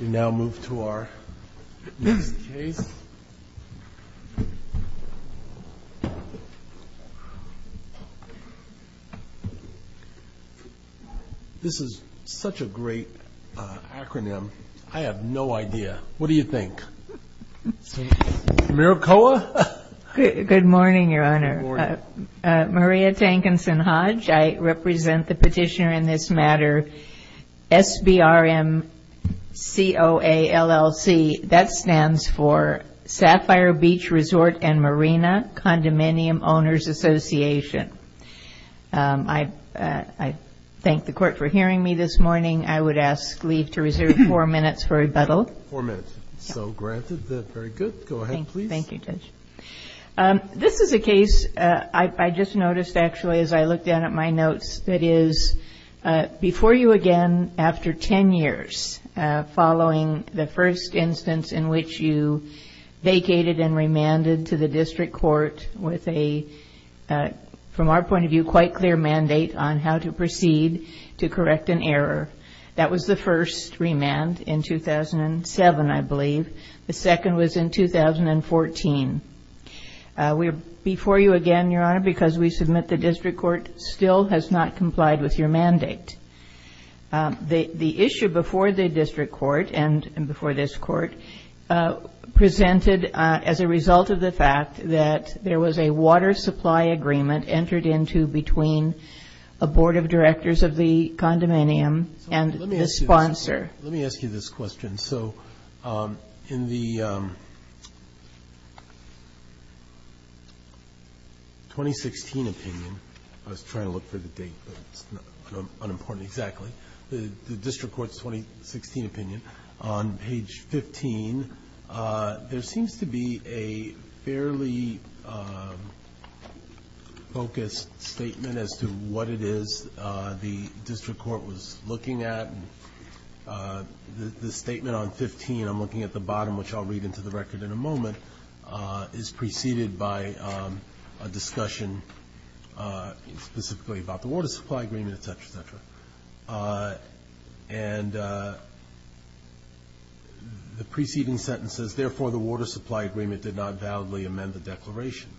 We now move to our next case. This is such a great acronym. I have no idea. What do you think? Re SBRMCOA? Good morning, your honor. Maria Tankinson Hodge. I represent the petitioner in this matter. SBRMCOALLC, that stands for Sapphire Beach Resort and Marina Condominium Owners Association. I thank the court for hearing me this morning. I would ask leave to reserve four minutes for rebuttal. Four minutes. So granted that. Very good. Go ahead, please. Thank you, Judge. This is a case I just noticed actually, as I looked down at my notes, that is before you again, after 10 years, following the first instance in which you vacated and remanded to the district court with a, from our point of view, quite clear mandate on how to proceed to correct an error. That was the first remand in 2007, I believe. The second was in 2014. We're before you again, your honor, because we submit the district court still has not complied with your mandate. The issue before the district court and before this court presented as a result of the fact that there was a water supply agreement entered into between a board of directors of the condominium and the sponsor. Let me ask you this question. So in the 2016 opinion, I was trying to look for the date, but it's not unimportant exactly. The district court's 2016 opinion on page 15, there seems to be a fairly focused statement as to what it is the district court was looking at. The statement on 15, I'm looking at the bottom, which I'll read into the record in a moment, is preceded by a discussion specifically about the water supply agreement, et cetera, et cetera. And the preceding sentence says, therefore, the water supply agreement did not validly amend the declaration.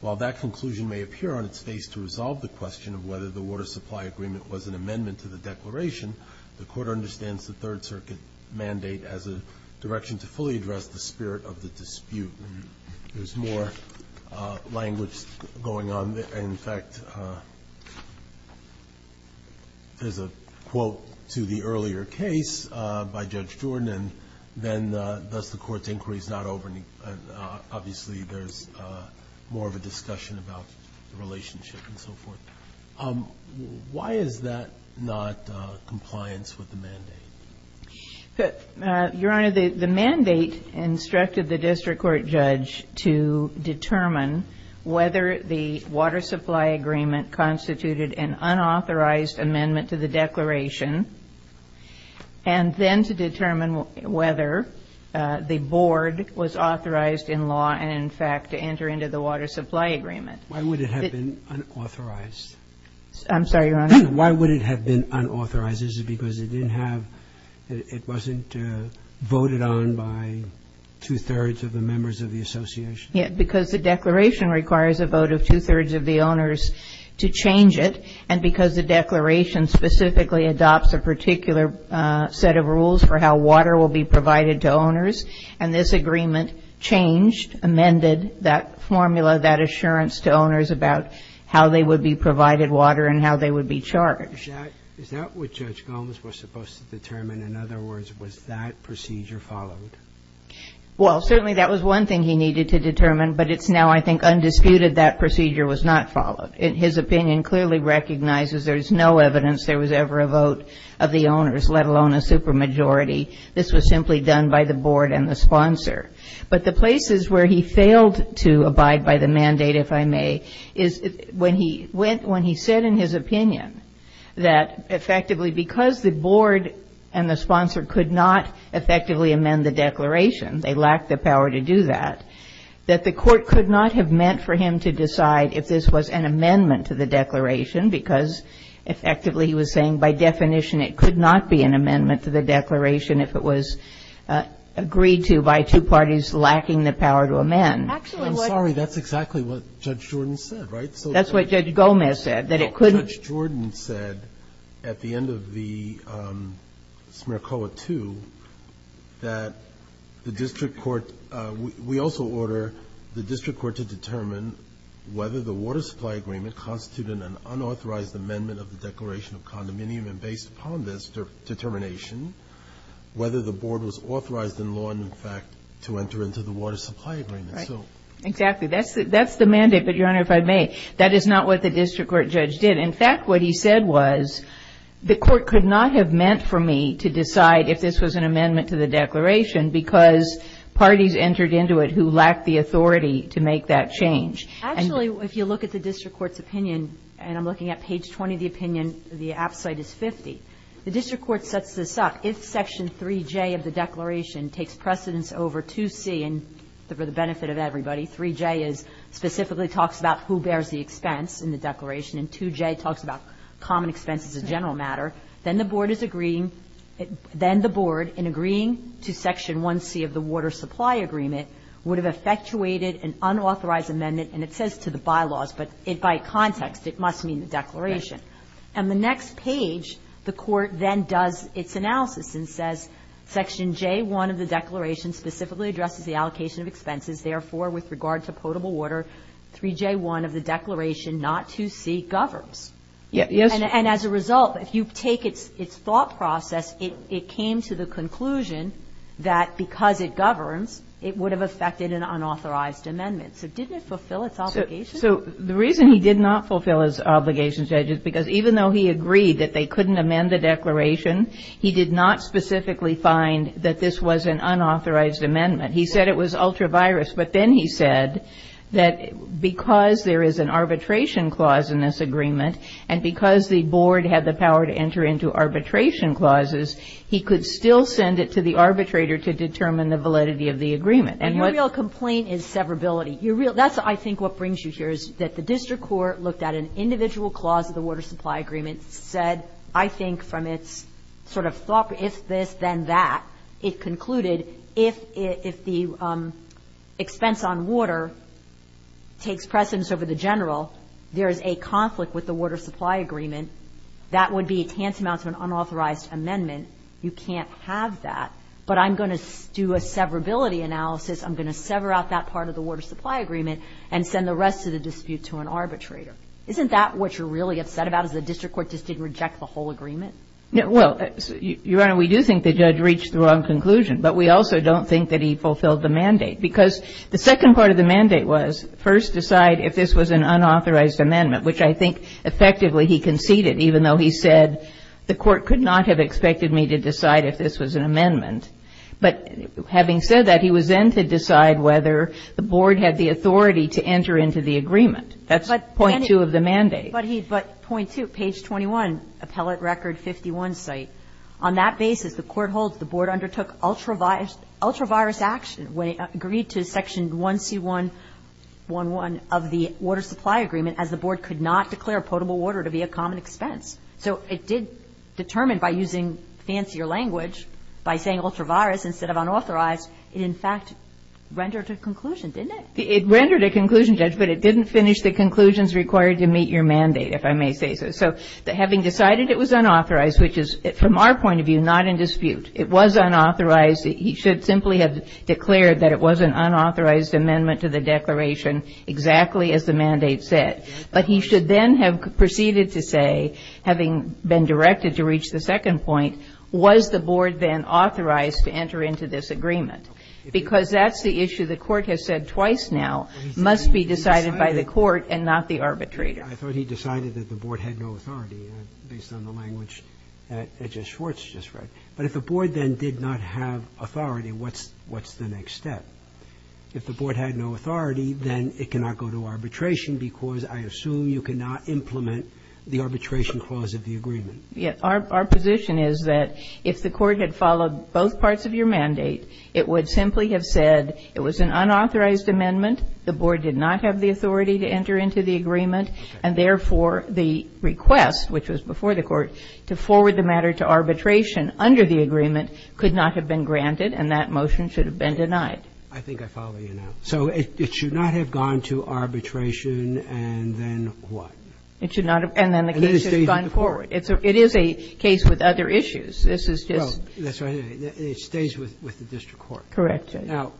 While that conclusion may appear on its face to resolve the question of whether the water supply agreement was an amendment to the declaration, the court understands the third circuit mandate as a direction to fully address the spirit of the dispute. There's more language going on. In fact, there's a quote to the earlier case by Judge Jordan, and then thus the court's inquiry is not over. Obviously, there's more of a discussion about the relationship and so forth. Why is that not compliance with the mandate? Your Honor, the mandate instructed the district court judge to determine whether the water supply agreement constituted an unauthorized amendment to the declaration, and then to determine whether the board was authorized in law and, in fact, to enter into the water supply agreement. Why would it have been unauthorized? I'm sorry, Your Honor. Why would it have been unauthorized? Is it because it didn't have, it wasn't voted on by two-thirds of the members of the association? Yeah, because the declaration requires a vote of two-thirds of the owners to change it, and because the declaration specifically adopts a particular set of rules for how water will be provided to owners, and this agreement changed, amended that assurance to owners about how they would be provided water and how they would be charged. Is that what Judge Gomes was supposed to determine? In other words, was that procedure followed? Well, certainly that was one thing he needed to determine, but it's now, I think, undisputed that procedure was not followed. His opinion clearly recognizes there's no evidence there was ever a vote of the owners, let alone a supermajority. This was simply done by the board and the sponsor. But the places where he failed to abide by the mandate, if I may, is when he went, when he said in his opinion that effectively because the board and the sponsor could not effectively amend the declaration, they lacked the power to do that, that the court could not have meant for him to decide if this was an amendment to the declaration, because effectively he was saying by definition it could not be an amendment to the declaration, and the board is lacking the power to amend. Actually, I'm sorry, that's exactly what Judge Jordan said, right? That's what Judge Gomes said, that it couldn't. No, Judge Jordan said at the end of the SMERCOA II that the district court, we also order the district court to determine whether the water supply agreement constituted an unauthorized amendment of the declaration of condominium, and based upon this determination, whether the board was authorized in law and in fact to enter into the water supply agreement. Right. Exactly. That's the mandate, but, Your Honor, if I may, that is not what the district court judge did. In fact, what he said was the court could not have meant for me to decide if this was an amendment to the declaration because parties entered into it who lacked the authority to make that change. Actually, if you look at the district court's opinion, and I'm looking at page 20 of page 50, the district court sets this up. If section 3J of the declaration takes precedence over 2C, and for the benefit of everybody, 3J specifically talks about who bears the expense in the declaration, and 2J talks about common expenses as a general matter, then the board is agreeing to section 1C of the water supply agreement would have effectuated an unauthorized amendment, and it says to the bylaws, but by context, it must mean the declaration. And the next page, the court then does its analysis and says section J1 of the declaration specifically addresses the allocation of expenses, therefore, with regard to potable water, 3J1 of the declaration, not 2C, governs. And as a result, if you take its thought process, it came to the conclusion that because it governs, it would have effected an unauthorized amendment. So didn't it fulfill its obligation? So the reason he did not fulfill his obligation, Judge, is because even though he agreed that they couldn't amend the declaration, he did not specifically find that this was an unauthorized amendment. He said it was ultra-virus, but then he said that because there is an arbitration clause in this agreement, and because the board had the power to enter into arbitration clauses, he could still send it to the arbitrator to determine the validity of the agreement. And your real complaint is severability. That's, I think, what brings you here is that the district court looked at an individual clause of the water supply agreement, said, I think, from its sort of thought, if this, then that, it concluded if the expense on water takes precedence over the general, there is a conflict with the water supply agreement, that would be a tantamount to an unauthorized amendment. You can't have that. But I'm going to do a severability analysis. I'm going to sever out that part of the water supply agreement and send the rest of the dispute to an arbitrator. Isn't that what you're really upset about, is the district court just didn't reject the whole agreement? Well, Your Honor, we do think the judge reached the wrong conclusion, but we also don't think that he fulfilled the mandate. Because the second part of the mandate was first decide if this was an unauthorized amendment, which I think effectively he conceded, even though he said the court could not have expected me to decide if this was an amendment. But having said that, he was then to decide whether the board had the authority to enter into the agreement. That's point two of the mandate. But he, but point two, page 21, appellate record 51 site, on that basis, the court holds the board undertook ultra-virus action when it agreed to section 1C111 of the water supply agreement as the board could not declare potable water to be a common expense. So it did determine by using fancier language, by saying ultra-virus instead of unauthorized, it in fact rendered a conclusion, didn't it? It rendered a conclusion, Judge, but it didn't finish the conclusions required to meet your mandate, if I may say so. So having decided it was unauthorized, which is, from our point of view, not in dispute, it was unauthorized. He should simply have declared that it was an unauthorized amendment to the declaration exactly as the mandate said. But he should then have proceeded to say, having been directed to reach the second point, was the board then authorized to enter into this agreement? Because that's the issue the court has said twice now, must be decided by the court and not the arbitrator. Roberts. I thought he decided that the board had no authority, based on the language that Edges Schwartz just read. But if the board then did not have authority, what's the next step? If the board had no authority, then it cannot go to arbitration, because I assume you cannot implement the arbitration clause of the agreement. Yes. Our position is that if the court had followed both parts of your mandate, it would simply have said it was an unauthorized amendment, the board did not have the authority to enter into the agreement, and therefore, the request, which was before the court, to forward the matter to arbitration under the agreement could not have been granted and that motion should have been denied. I think I follow you now. So it should not have gone to arbitration and then what? It should not have. And then the case has gone forward. It is a case with other issues. This is just the case with the district court. Correct. Now,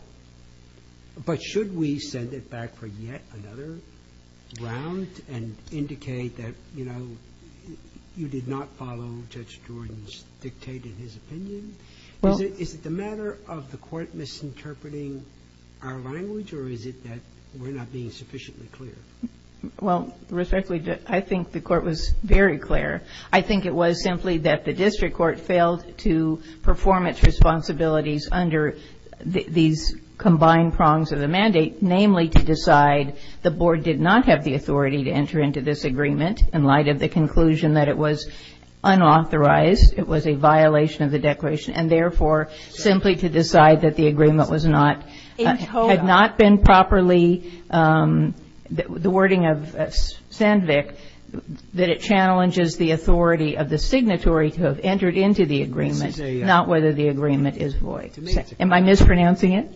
but should we send it back for yet another round and indicate that, you know, you did not follow Judge Jordan's dictated opinion? Is it the matter of the court misinterpreting our language, or is it that we're not being sufficiently clear? Well, Respectfully, I think the court was very clear. I think it was simply that the district court failed to perform its responsibilities under these combined prongs of the mandate, namely to decide the board did not have the authority to enter into this agreement in light of the conclusion that it was and, therefore, simply to decide that the agreement was not, had not been properly the wording of Sandvik, that it challenges the authority of the signatory to have entered into the agreement, not whether the agreement is void. Am I mispronouncing it?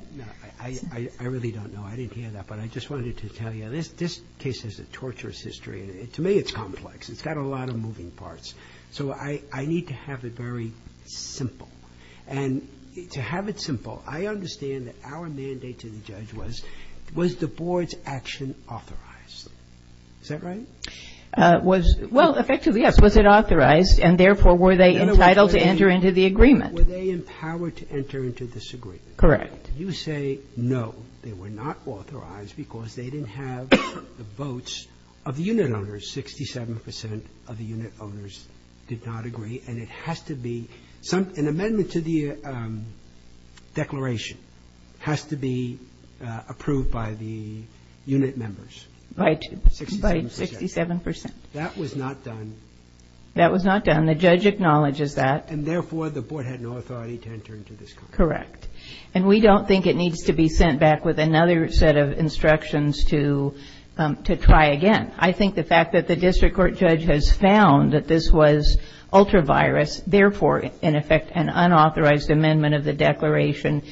I really don't know. I didn't hear that, but I just wanted to tell you. This case is a torturous history. To me, it's complex. It's got a lot of moving parts. So I need to have it very simple. And to have it simple, I understand that our mandate to the judge was, was the board's action authorized? Is that right? Was, well, effectively, yes. Was it authorized, and, therefore, were they entitled to enter into the agreement? Were they empowered to enter into this agreement? Correct. You say, no, they were not authorized because they didn't have the votes of the 67% of the unit owners did not agree. And it has to be some, an amendment to the declaration has to be approved by the unit members. By 67%. That was not done. That was not done. The judge acknowledges that. And, therefore, the board had no authority to enter into this contract. Correct. And we don't think it needs to be sent back with another set of instructions to, to try again. I think the fact that the district court judge has found that this was ultra-virus, therefore, in effect, an unauthorized amendment of the declaration,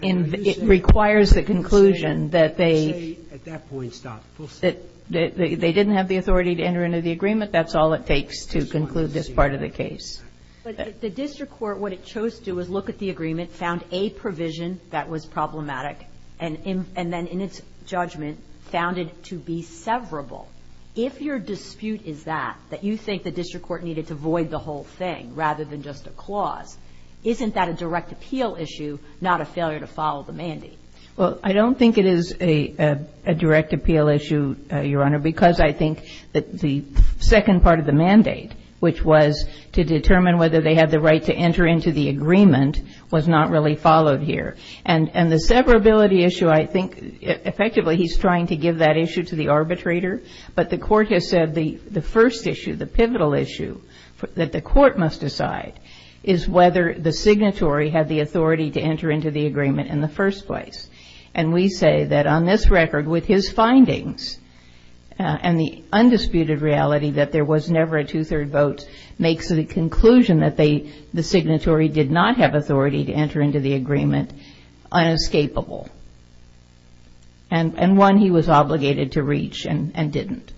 it requires the conclusion that they. At that point, stop. They didn't have the authority to enter into the agreement. That's all it takes to conclude this part of the case. But the district court, what it chose to do was look at the agreement, found a provision that was problematic, and then, in its judgment, found it to be severable. If your dispute is that, that you think the district court needed to void the whole thing rather than just a clause, isn't that a direct appeal issue, not a failure to follow the mandate? Well, I don't think it is a, a direct appeal issue, Your Honor, because I think that the second part of the mandate, which was to determine whether they had the right to enter into the agreement, was not really followed here. And, and the severability issue, I think, effectively, he's trying to give that issue to the arbitrator, but the court has said the, the first issue, the pivotal issue that the court must decide is whether the signatory had the authority to enter into the agreement in the first place. And we say that on this record, with his findings, and the undisputed reality that there was never a two-third vote makes the conclusion that they, the signatory did not have authority to enter into the agreement unescapable. And, and one he was obligated to reach and, and didn't.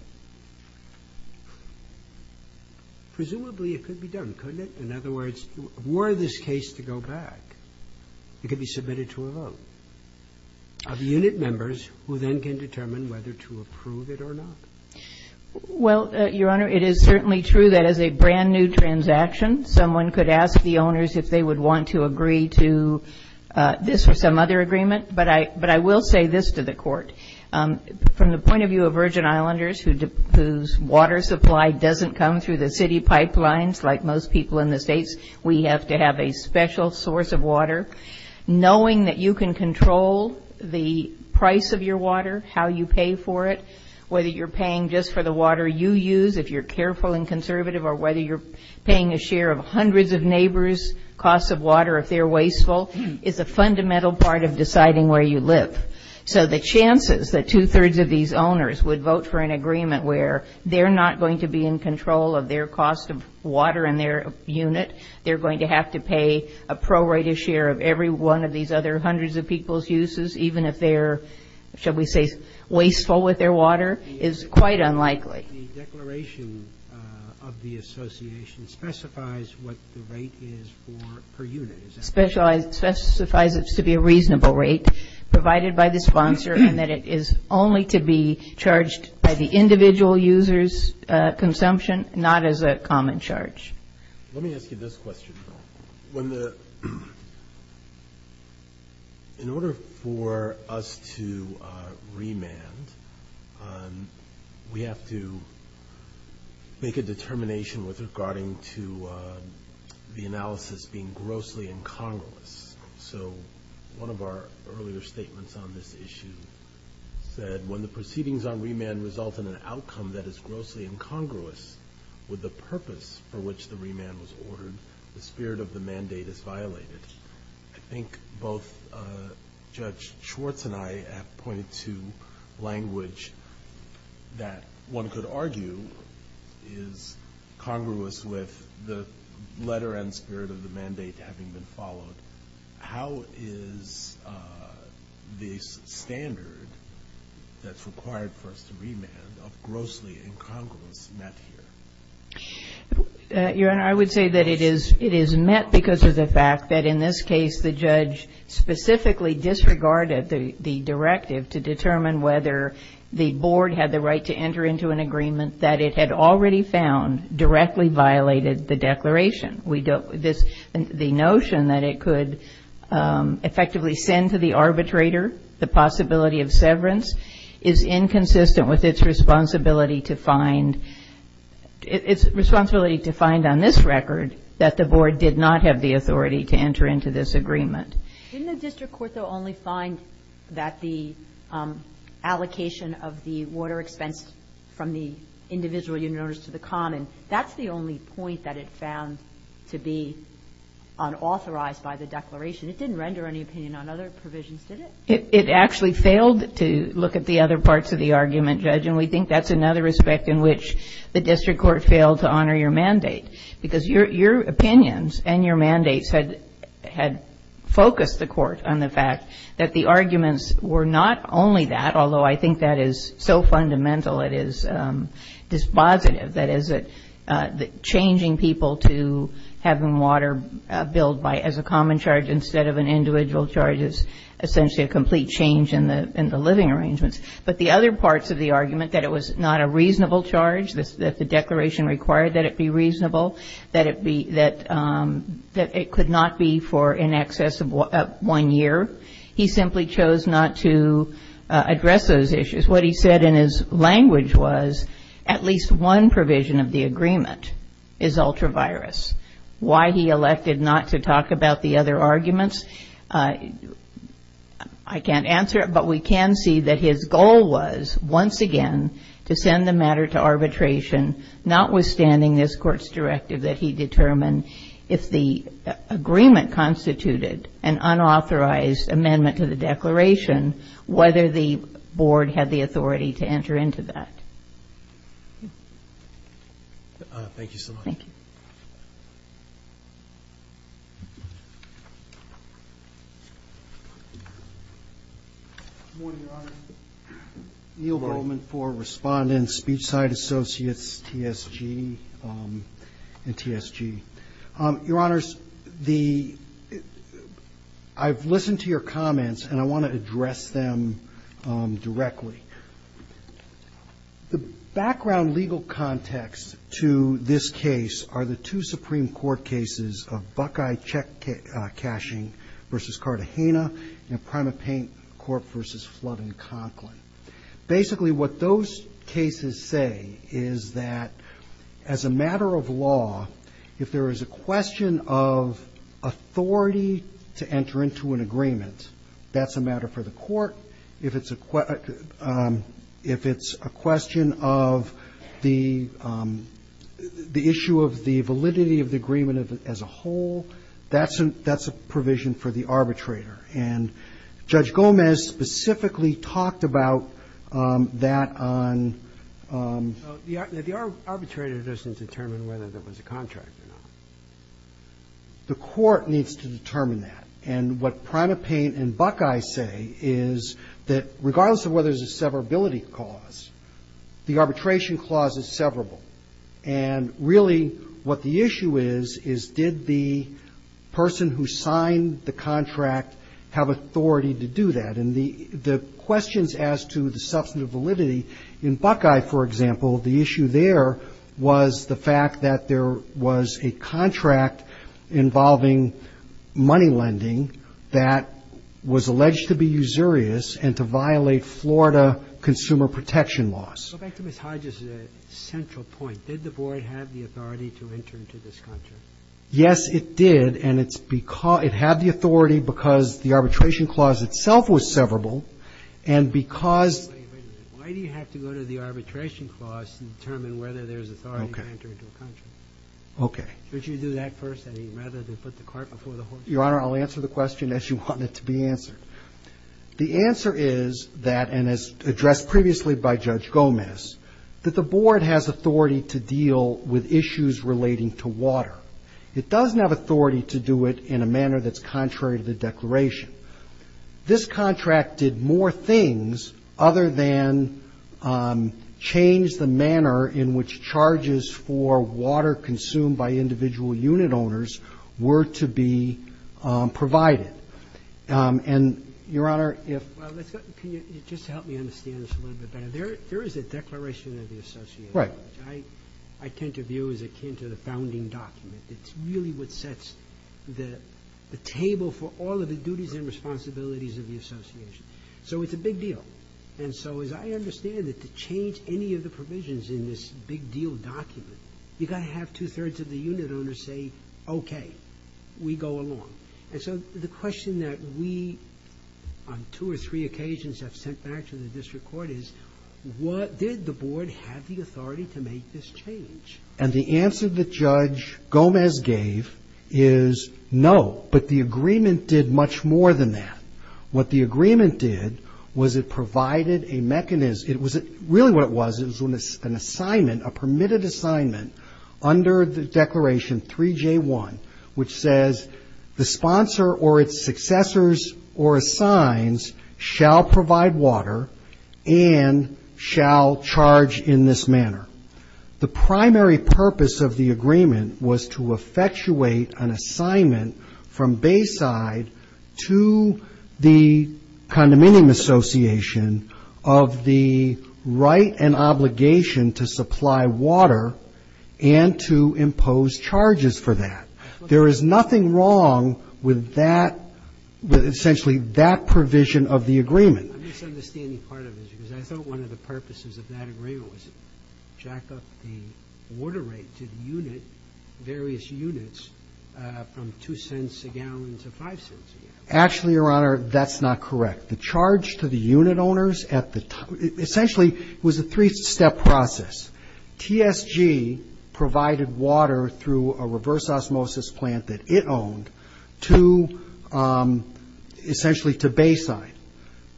Presumably, it could be done, couldn't it? In other words, were this case to go back, it could be submitted to a vote of unit members who then can determine whether to approve it or not. Well, Your Honor, it is certainly true that as a brand new transaction, someone could ask the owners if they would want to agree to this or some other agreement, but I, but I will say this to the court, from the point of view of Virgin Islanders who, whose water supply doesn't come through the city pipelines, like most people in the States, we have to have a special source of water. Knowing that you can control the price of your water, how you pay for it, whether you're paying just for the water you use, if you're careful and conservative, or whether you're paying a share of hundreds of neighbors' costs of water if they're wasteful, is a fundamental part of deciding where you live. So the chances that two-thirds of these owners would vote for an agreement where they're not going to be in control of their cost of water and their unit, they're going to have to pay a prorated share of every one of these other hundreds of people's uses, even if they're, shall we say, wasteful with their water, is quite unlikely. The declaration of the association specifies what the rate is for per unit, is that right? Specifies it to be a reasonable rate provided by the sponsor and that it is only to be charged by the individual user's consumption, not as a common charge. Let me ask you this question, though. When the, in order for us to remand, we have to make a determination with regarding to the analysis being grossly incongruous. So one of our earlier statements on this issue said, when the proceedings on remand result in an outcome that is grossly incongruous with the purpose for which the remand was ordered, the spirit of the mandate is violated. I think both Judge Schwartz and I have pointed to language that one could argue is congruous with the letter and spirit of the mandate having been followed. How is this standard that's required for us to remand of grossly incongruous met here? Your Honor, I would say that it is met because of the fact that in this case, the judge specifically disregarded the directive to determine whether the board had the right to enter into an agreement that it had already found directly violated the declaration. We don't, this, the notion that it could effectively send to the arbitrator the possibility of severance is inconsistent with its responsibility to find. It's responsibility to find on this record that the board did not have the authority to enter into this agreement. Didn't the district court though only find that the allocation of the water expense from the individual unit owners to the common, that's the only point that it found to be unauthorized by the declaration. It didn't render any opinion on other provisions, did it? And we think that's another respect in which the district court failed to honor your mandate. Because your opinions and your mandates had focused the court on the fact that the arguments were not only that, although I think that is so fundamental, it is dispositive, that is that changing people to having water billed by, as a common charge instead of an individual charge is essentially a complete change in the living arrangements. But the other parts of the argument, that it was not a reasonable charge, that the declaration required that it be reasonable, that it could not be for in excess of one year. He simply chose not to address those issues. What he said in his language was, at least one provision of the agreement is ultra-virus. Why he elected not to talk about the other arguments, I can't answer it. But we can see that his goal was, once again, to send the matter to arbitration, notwithstanding this court's directive that he determine if the agreement constituted an unauthorized amendment to the declaration, whether the board had the authority to enter into that. Thank you so much. Thank you. Good morning, Your Honor. Neil Bowman for Respondents, Speech-Side Associates, TSG, and TSG. Your Honors, the, I've listened to your comments, and I want to address them directly. The background legal context to this case are the two Supreme Court cases of Buckeye Cashing v. Cartagena and Primate Paint Corp. v. Flood and Conklin. Basically, what those cases say is that, as a matter of law, if there is a question of authority to enter into an agreement, that's a matter for the court. If it's a question of the issue of the validity of the agreement as a whole, that's a provision for the arbitrator. And Judge Gomez specifically talked about that on the other. The arbitrator doesn't determine whether there was a contract or not. The court needs to determine that. And what Primate Paint and Buckeye say is that, regardless of whether there's a severability clause, the arbitration clause is severable. And really, what the issue is, is did the person who signed the contract have authority to do that? And the questions as to the substantive validity in Buckeye, for example, the issue there was the fact that there was a contract involving money lending that was alleged to be usurious and to violate Florida consumer protection laws. Go back to Ms. Hodges' central point. Did the board have the authority to enter into this contract? Yes, it did. And it had the authority because the arbitration clause itself was severable. And because why do you have to go to the arbitration clause to determine whether there's authority to enter into a contract? OK. Should you do that first, rather than put the cart before the horse? Your Honor, I'll answer the question as you want it to be answered. The answer is that, and as addressed previously by Judge Gomez, that the board has authority to deal with issues relating to water. It doesn't have authority to do it in a manner that's contrary to the declaration. This contract did more things other than change the manner in which charges for water consumed by individual unit owners were to be provided. And, Your Honor, if- Well, let's go, can you just help me understand this a little bit better? There is a declaration of the association. Right. I tend to view as akin to the founding document. It's really what sets the table for all of the duties and responsibilities of the association. So it's a big deal. And so, as I understand it, to change any of the provisions in this big deal document, you gotta have two-thirds of the unit owners say, OK, we go along. And so, the question that we, on two or three occasions, have sent back to the district court is, what did the board have the authority to make this change? And the answer that Judge Gomez gave is no. But the agreement did much more than that. What the agreement did was it provided a mechanism. It was, really what it was, it was an assignment, a permitted assignment under the Declaration 3J1, which says, the sponsor or its successors or assigns shall provide water and shall charge in this manner. The primary purpose of the agreement was to effectuate an assignment from Bayside to the condominium association of the right and obligation to supply water and to impose charges for that. There is nothing wrong with that, with essentially that provision of the agreement. I'm misunderstanding part of this, because I thought one of the purposes of that agreement was to jack up the water rate to the unit, various units, from two cents a gallon to five cents a gallon. Actually, Your Honor, that's not correct. The charge to the unit owners at the, essentially, it was a three-step process. TSG provided water through a reverse osmosis plant that it owned to, essentially, to Bayside.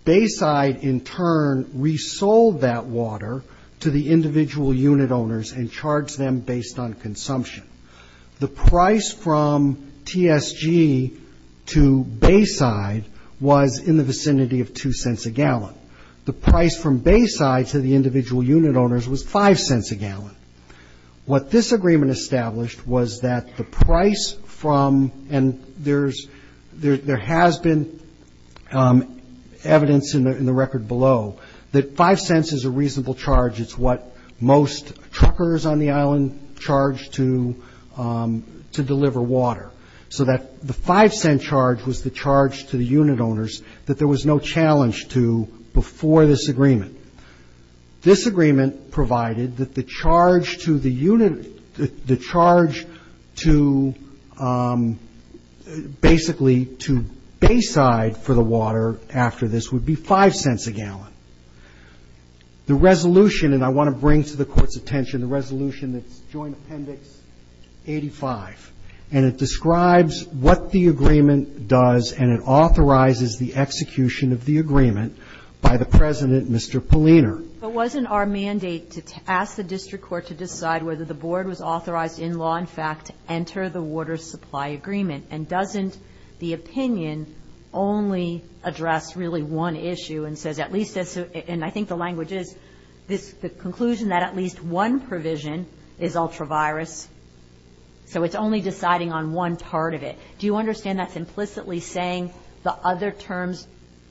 Bayside, in turn, resold that water to the individual unit owners and charged them based on consumption. The price from TSG to Bayside was in the vicinity of two cents a gallon. The price from Bayside to the individual unit owners was five cents a gallon. What this agreement established was that the price from, and there has been evidence in the record below, that five cents is a reasonable charge. It's what most truckers on the island charge to deliver water. So that the five cent charge was the charge to the unit owners that there was no challenge to before this agreement. This agreement provided that the charge to the unit, the charge to, basically, to Bayside for the water after this would be five cents a gallon. The resolution, and I want to bring to the Court's attention the resolution that's Joint Appendix 85, and it describes what the agreement does and it authorizes the execution of the agreement by the President, Mr. Polliner. But wasn't our mandate to ask the district court to decide whether the board was authorized in law, in fact, to enter the water supply agreement? And doesn't the opinion only address really one issue and says at least this, and I think the language is, this conclusion that at least one provision is ultra-virus. So it's only deciding on one part of it. Do you understand that's implicitly saying the other terms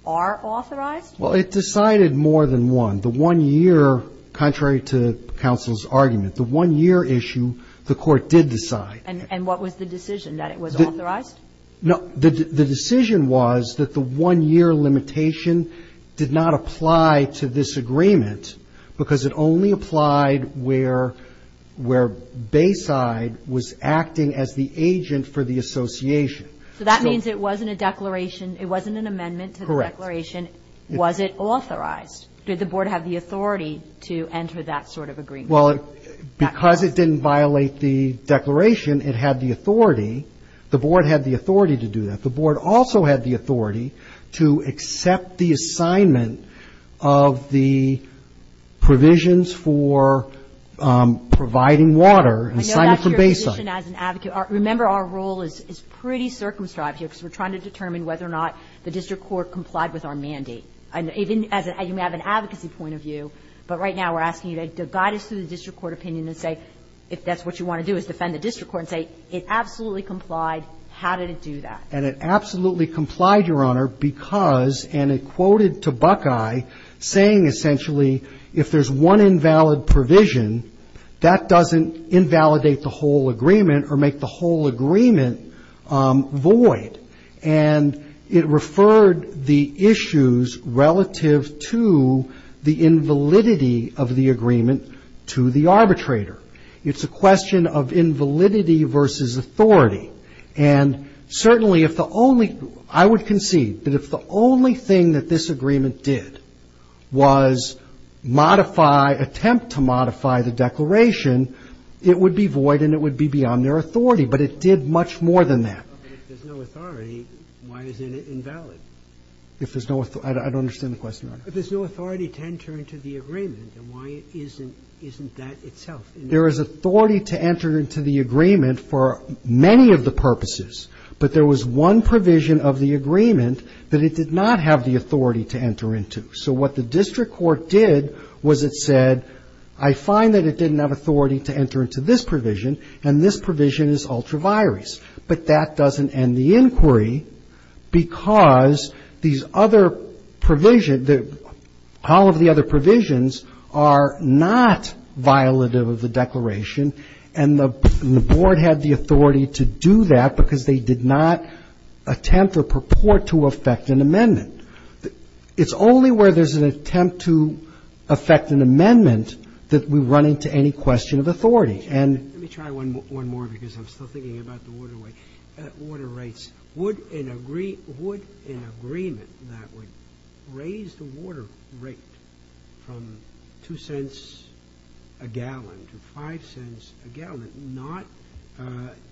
are authorized? Well, it decided more than one. The one year, contrary to counsel's argument, the one year issue, the court did decide. And what was the decision, that it was authorized? No, the decision was that the one year limitation did not apply to this agreement because it only applied where Bayside was acting as the agent for the association. So that means it wasn't a declaration, it wasn't an amendment to the declaration. Correct. Was it authorized? Did the board have the authority to enter that sort of agreement? Well, because it didn't violate the declaration, it had the authority. The board had the authority to do that. The board also had the authority to accept the assignment of the provisions for providing water and assignment from Bayside. I know that's your position as an advocate. Remember, our role is pretty circumscribed here because we're trying to determine whether or not the district court complied with our mandate. And even as you may have an advocacy point of view, but right now we're asking you to guide us through the district court opinion and say if that's what you want to do is defend the district court and say it absolutely complied, how did it do that? And it absolutely complied, Your Honor, because and it quoted to Buckeye saying essentially if there's one invalid provision, that doesn't invalidate the whole agreement or make the whole agreement void. And it referred the issues relative to the invalidity of the agreement to the arbitrator. It's a question of invalidity versus authority. And certainly if the only, I would concede that if the only thing that this agreement did was modify, attempt to modify the declaration, it would be void and it would be beyond their authority, but it did much more than that. If there's no authority, why isn't it invalid? If there's no, I don't understand the question, Your Honor. If there's no authority to enter into the agreement, then why isn't that itself there is authority to enter into the agreement for many of the purposes. But there was one provision of the agreement that it did not have the authority to enter into, so what the district court did was it said, I find that it didn't have authority to enter into this provision, and this provision is ultra virus. But that doesn't end the inquiry because these other provisions, all of the other provisions are not violative of the declaration, and the board had the authority to do that because they did not attempt or purport to affect an amendment. It's only where there's an attempt to affect an amendment that we run into any question of authority. And let me try one more because I'm still thinking about the order rights. Would an agreement that would raise the water rate from 2 cents a gallon to 5 cents a gallon not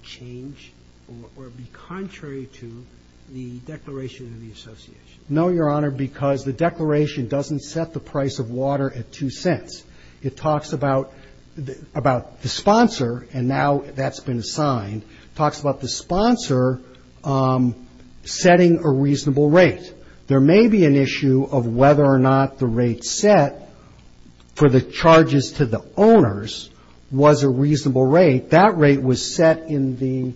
change or be contrary to the declaration of the association? No, Your Honor, because the declaration doesn't set the price of water at 2 cents. It talks about the sponsor, and now that's been assigned, talks about the sponsor setting a reasonable rate. There may be an issue of whether or not the rate set for the charges to the owners was a reasonable rate. That rate was set in the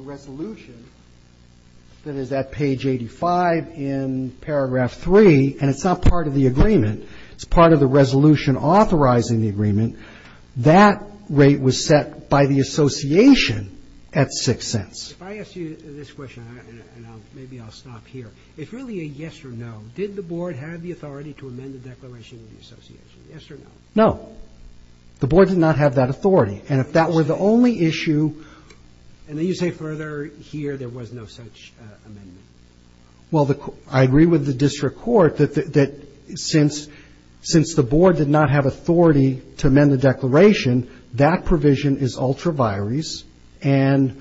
resolution that is at page 85 in paragraph 3, and it's not part of the agreement. It's part of the resolution authorizing the agreement. That rate was set by the association at 6 cents. If I ask you this question, and maybe I'll stop here, if really a yes or no, did the board have the authority to amend the declaration of the association, yes or no? No. The board did not have that authority. And if that were the only issue And then you say further, here, there was no such amendment. Well, I agree with the district court that since the board did not have authority to amend the declaration, that provision is ultra-virus and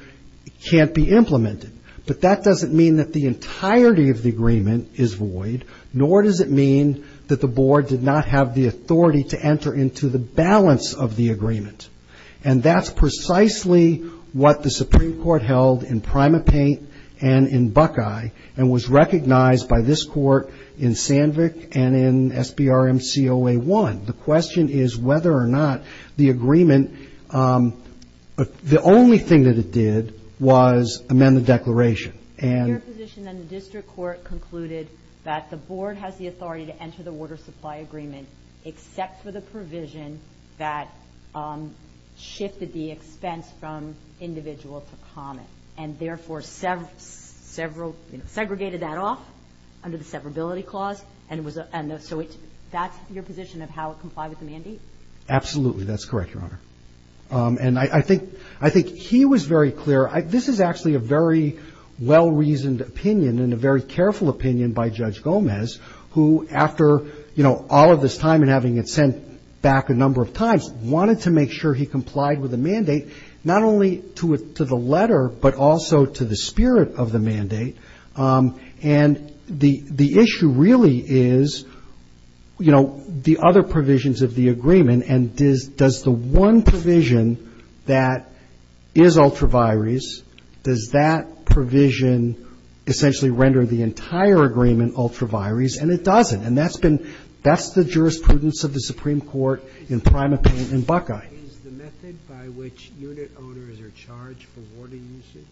can't be implemented. But that doesn't mean that the entirety of the agreement is void, nor does it mean that the board did not have the authority to enter into the balance of the agreement. And that's precisely what the Supreme Court held in PrimaPaint and in Buckeye, and was recognized by this court in Sandvik and in SBRMCOA1. The question is whether or not the agreement, the only thing that it did was amend the declaration. And Your position in the district court concluded that the board has the authority to enter the water supply agreement, except for the provision that shifted the expense from individual to common. And therefore, segregated that off under the severability clause. And so that's your position of how it complied with the mandate? Absolutely, that's correct, Your Honor. And I think he was very clear. This is actually a very well-reasoned opinion and a very careful opinion by Judge Gomez, who after all of this time and having it sent back a number of times, wanted to make sure he complied with the mandate. Not only to the letter, but also to the spirit of the mandate. And the issue really is, you know, the other provisions of the agreement. And does the one provision that is ultra-vires, does that provision essentially render the entire agreement ultra-vires? And it doesn't. And that's been, that's the jurisprudence of the Supreme Court in PrimaPaint and Buckeye. Is the method by which unit owners are charged for water usage,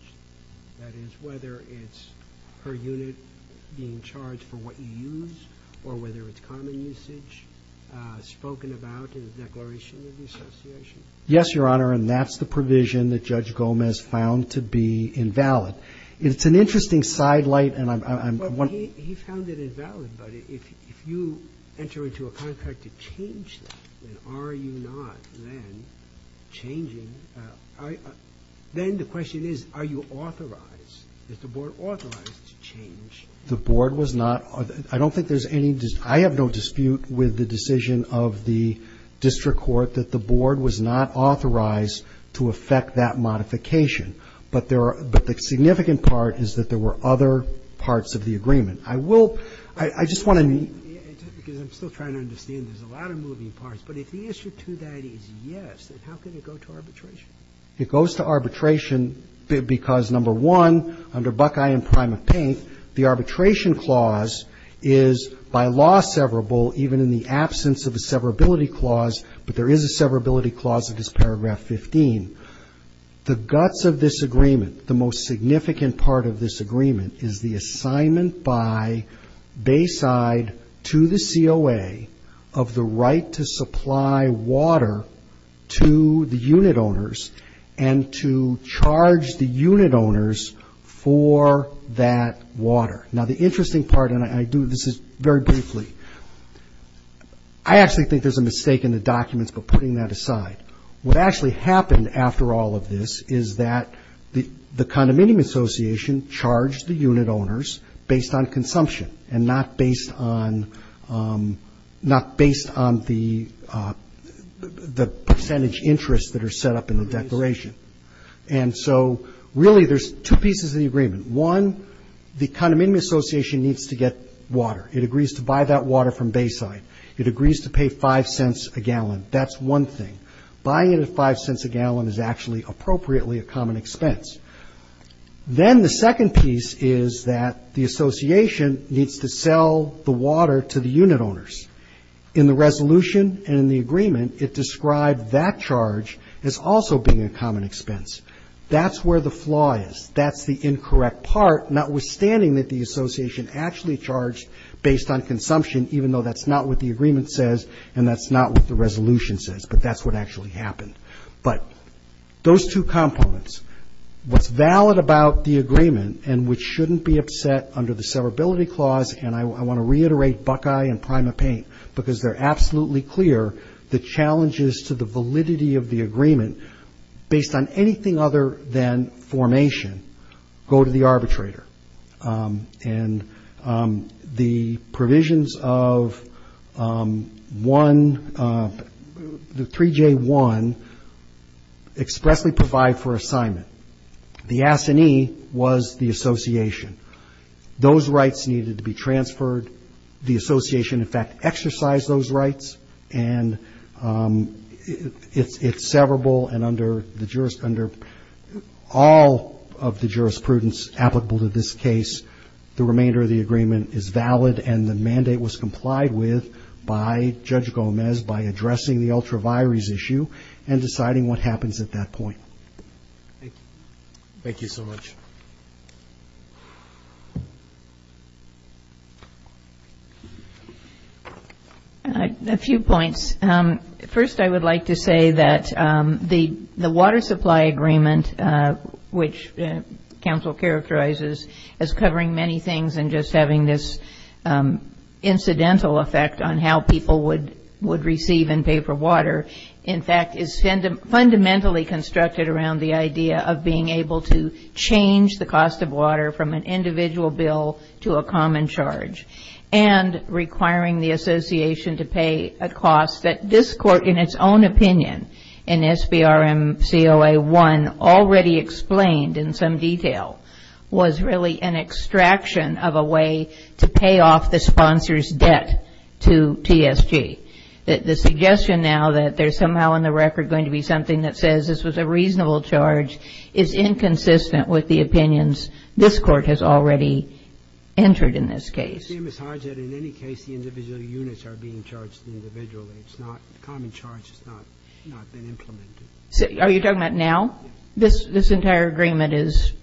that is whether it's per unit being charged for what you use, or whether it's common usage, spoken about in the declaration of the association? Yes, Your Honor, and that's the provision that Judge Gomez found to be invalid. It's an interesting side light, and I'm, I'm, I'm, I'm. But he, he found it invalid. But if, if you enter into a contract to change that, then are you not then changing, then the question is, are you authorized? Is the board authorized to change? The board was not, I don't think there's any, I have no dispute with the decision of the district court that the board was not authorized to effect that modification. But there are, but the significant part is that there were other parts of the agreement. I will, I, I just want to. Because I'm still trying to understand, there's a lot of moving parts. But if the issue to that is yes, then how can it go to arbitration? It goes to arbitration be, because number one, under Buckeye and Prime of Paint, the arbitration clause is by law severable, even in the absence of a severability clause, but there is a severability clause that is paragraph 15. The guts of this agreement, the most significant part of this agreement, is the assignment by Bayside to the COA of the right to supply water to the unit owners and to charge the unit owners for that water. Now the interesting part, and I do this very briefly. I actually think there's a mistake in the documents, but putting that aside. What actually happened after all of this is that the, the condominium association charged the unit owners based on consumption and not based on the percentage interest that are set up in the declaration. And so really there's two pieces of the agreement. One, the condominium association needs to get water. It agrees to buy that water from Bayside. It agrees to pay five cents a gallon. That's one thing. Buying it at five cents a gallon is actually appropriately a common expense. Then the second piece is that the association needs to sell the water to the unit owners. In the resolution and in the agreement, it described that charge as also being a common expense. That's where the flaw is. That's the incorrect part, notwithstanding that the association actually charged based on consumption, even though that's not what the agreement says and that's not what the resolution says, but that's what actually happened. But those two components, what's valid about the agreement and which shouldn't be upset under the severability clause, and I want to reiterate Buckeye and PrimaPaint because they're absolutely clear, the challenges to the validity of the agreement based on anything other than formation go to the arbitrator. And the provisions of one, the 3J1 expressly provide for assignment. The assignee was the association. Those rights needed to be transferred. The association, in fact, exercised those rights and it's severable and under all of the jurisprudence applicable to this case, the remainder of the agreement is valid and the mandate was complied with by Judge Gomez by addressing the ultra-vires issue and deciding what happens at that point. Thank you so much. A few points. First, I would like to say that the water supply agreement, which counsel characterizes as covering many things and just having this incidental effect on how people would receive and pay for water, in fact, is fundamentally constructed around the idea of being able to change the cost of water from an individual bill to a common charge. And requiring the association to pay a cost that this court, in its own opinion, in SBRMCOA1, already explained in some detail, was really an extraction of a way to pay off the sponsor's debt to TSG. That the suggestion now that there's somehow in the record going to be something that says this was a reasonable charge is inconsistent with the opinions this court has already entered in this case. It seems as hard as that in any case the individual units are being charged individually. It's not common charge, it's not been implemented. Are you talking about now? This entire agreement is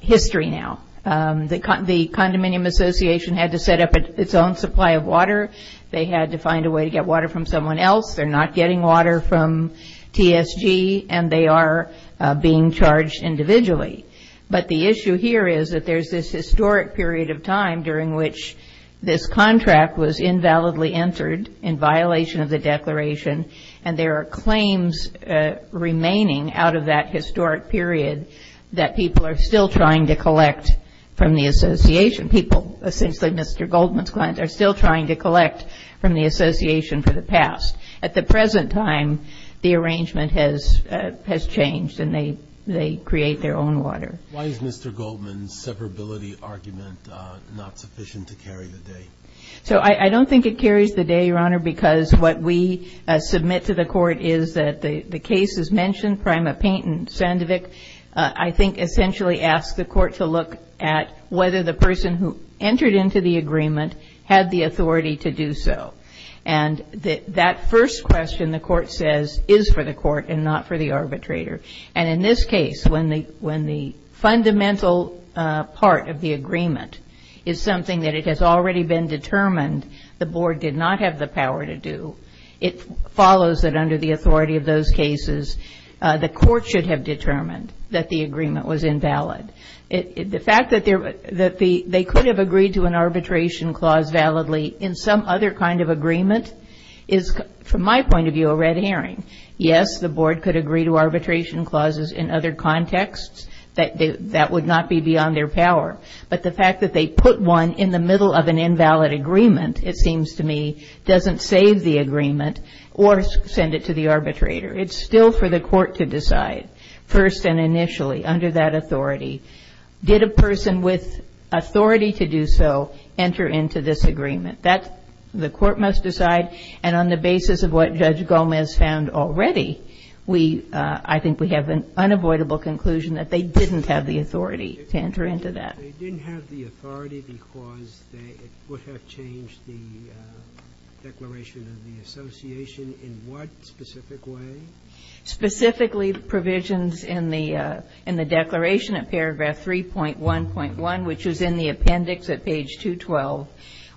history now. The Condominium Association had to set up its own supply of water. They had to find a way to get water from someone else. They're not getting water from TSG and they are being charged individually. But the issue here is that there's this historic period of time during which this contract was invalidly entered in violation of the declaration and there are claims remaining out of that historic period that people are still trying to collect from the association. People, essentially Mr. Goldman's clients, are still trying to collect from the association for the past. At the present time, the arrangement has changed and they create their own water. Why is Mr. Goldman's separability argument not sufficient to carry the day? So I don't think it carries the day, Your Honor, because what we submit to the court is that the case is mentioned, Prima Payton, Sandvik, I think essentially asked the court to look at whether the person who entered into the agreement had the authority to do so. And that first question, the court says, is for the court and not for the arbitrator. And in this case, when the fundamental part of the agreement is something that it has already been determined the board did not have the power to do, it follows that under the authority of those cases, the court should have determined that the agreement was invalid. The fact that they could have agreed to an arbitration clause validly in some other kind of agreement is, from my point of view, a red herring. Yes, the board could agree to arbitration clauses in other contexts. That would not be beyond their power. But the fact that they put one in the middle of an invalid agreement, it seems to me, doesn't save the agreement or send it to the arbitrator. It's still for the court to decide, first and initially, under that authority. Did a person with authority to do so enter into this agreement? The court must decide. And on the basis of what Judge Gomez found already, I think we have an unavoidable conclusion that they didn't have the authority to enter into that. They didn't have the authority because it would have changed the declaration of the association in what specific way? Specifically provisions in the declaration of paragraph 3.1.1, which is in the appendix at page 212,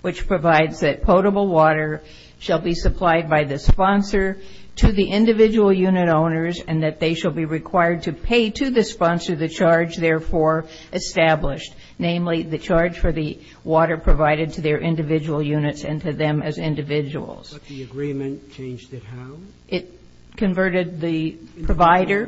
which provides that potable water shall be supplied by the sponsor to the individual unit owners and that they shall be required to pay to the sponsor the charge therefore established. Namely, the charge for the water provided to their individual units and to them as individuals. But the agreement changed it how? It converted the provider.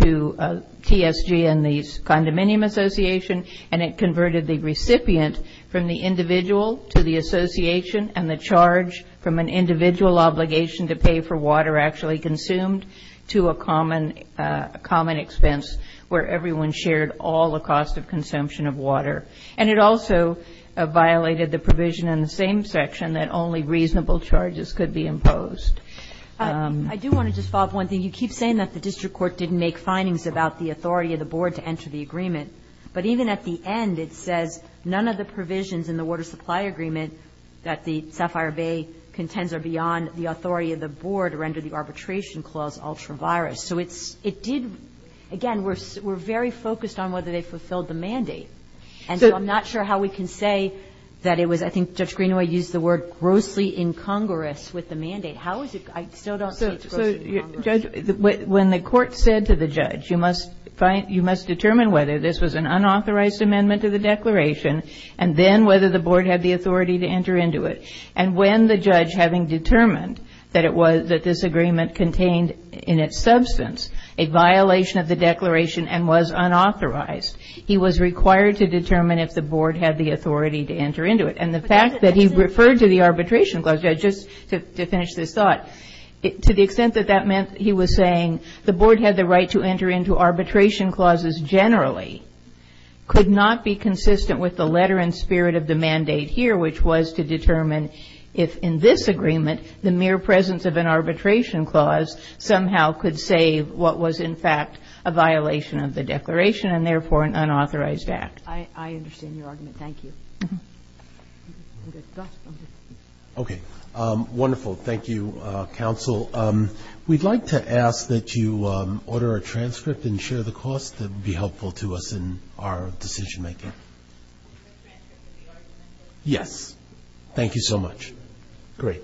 To TSG and the condominium association and it converted the recipient from the individual to the association and the charge from an individual obligation to pay for water actually consumed. To a common expense where everyone shared all the cost of consumption of water. And it also violated the provision in the same section that only reasonable charges could be imposed. I do want to just follow up on one thing. You keep saying that the district court didn't make findings about the authority of the board to enter the agreement. But even at the end, it says none of the provisions in the water supply agreement that the Sapphire Bay contends are beyond the authority of the board or under the arbitration clause ultra virus. So it did, again, we're very focused on whether they fulfilled the mandate. And so I'm not sure how we can say that it was, How is it, I still don't see it's gross to the Congress. When the court said to the judge, you must find, you must determine whether this was an unauthorized amendment to the declaration. And then whether the board had the authority to enter into it. And when the judge having determined that it was, that this agreement contained in its substance, a violation of the declaration and was unauthorized. He was required to determine if the board had the authority to enter into it. And the fact that he referred to the arbitration clause, judge, just to finish this thought, to the extent that that meant he was saying, the board had the right to enter into arbitration clauses generally. Could not be consistent with the letter and spirit of the mandate here, which was to determine if in this agreement, the mere presence of an arbitration clause somehow could save what was in fact a violation of the declaration and therefore an unauthorized act. I understand your argument. Thank you. Okay, wonderful. Thank you, counsel. We'd like to ask that you order a transcript and share the cost, that would be helpful to us in our decision making. Yes, thank you so much. Great.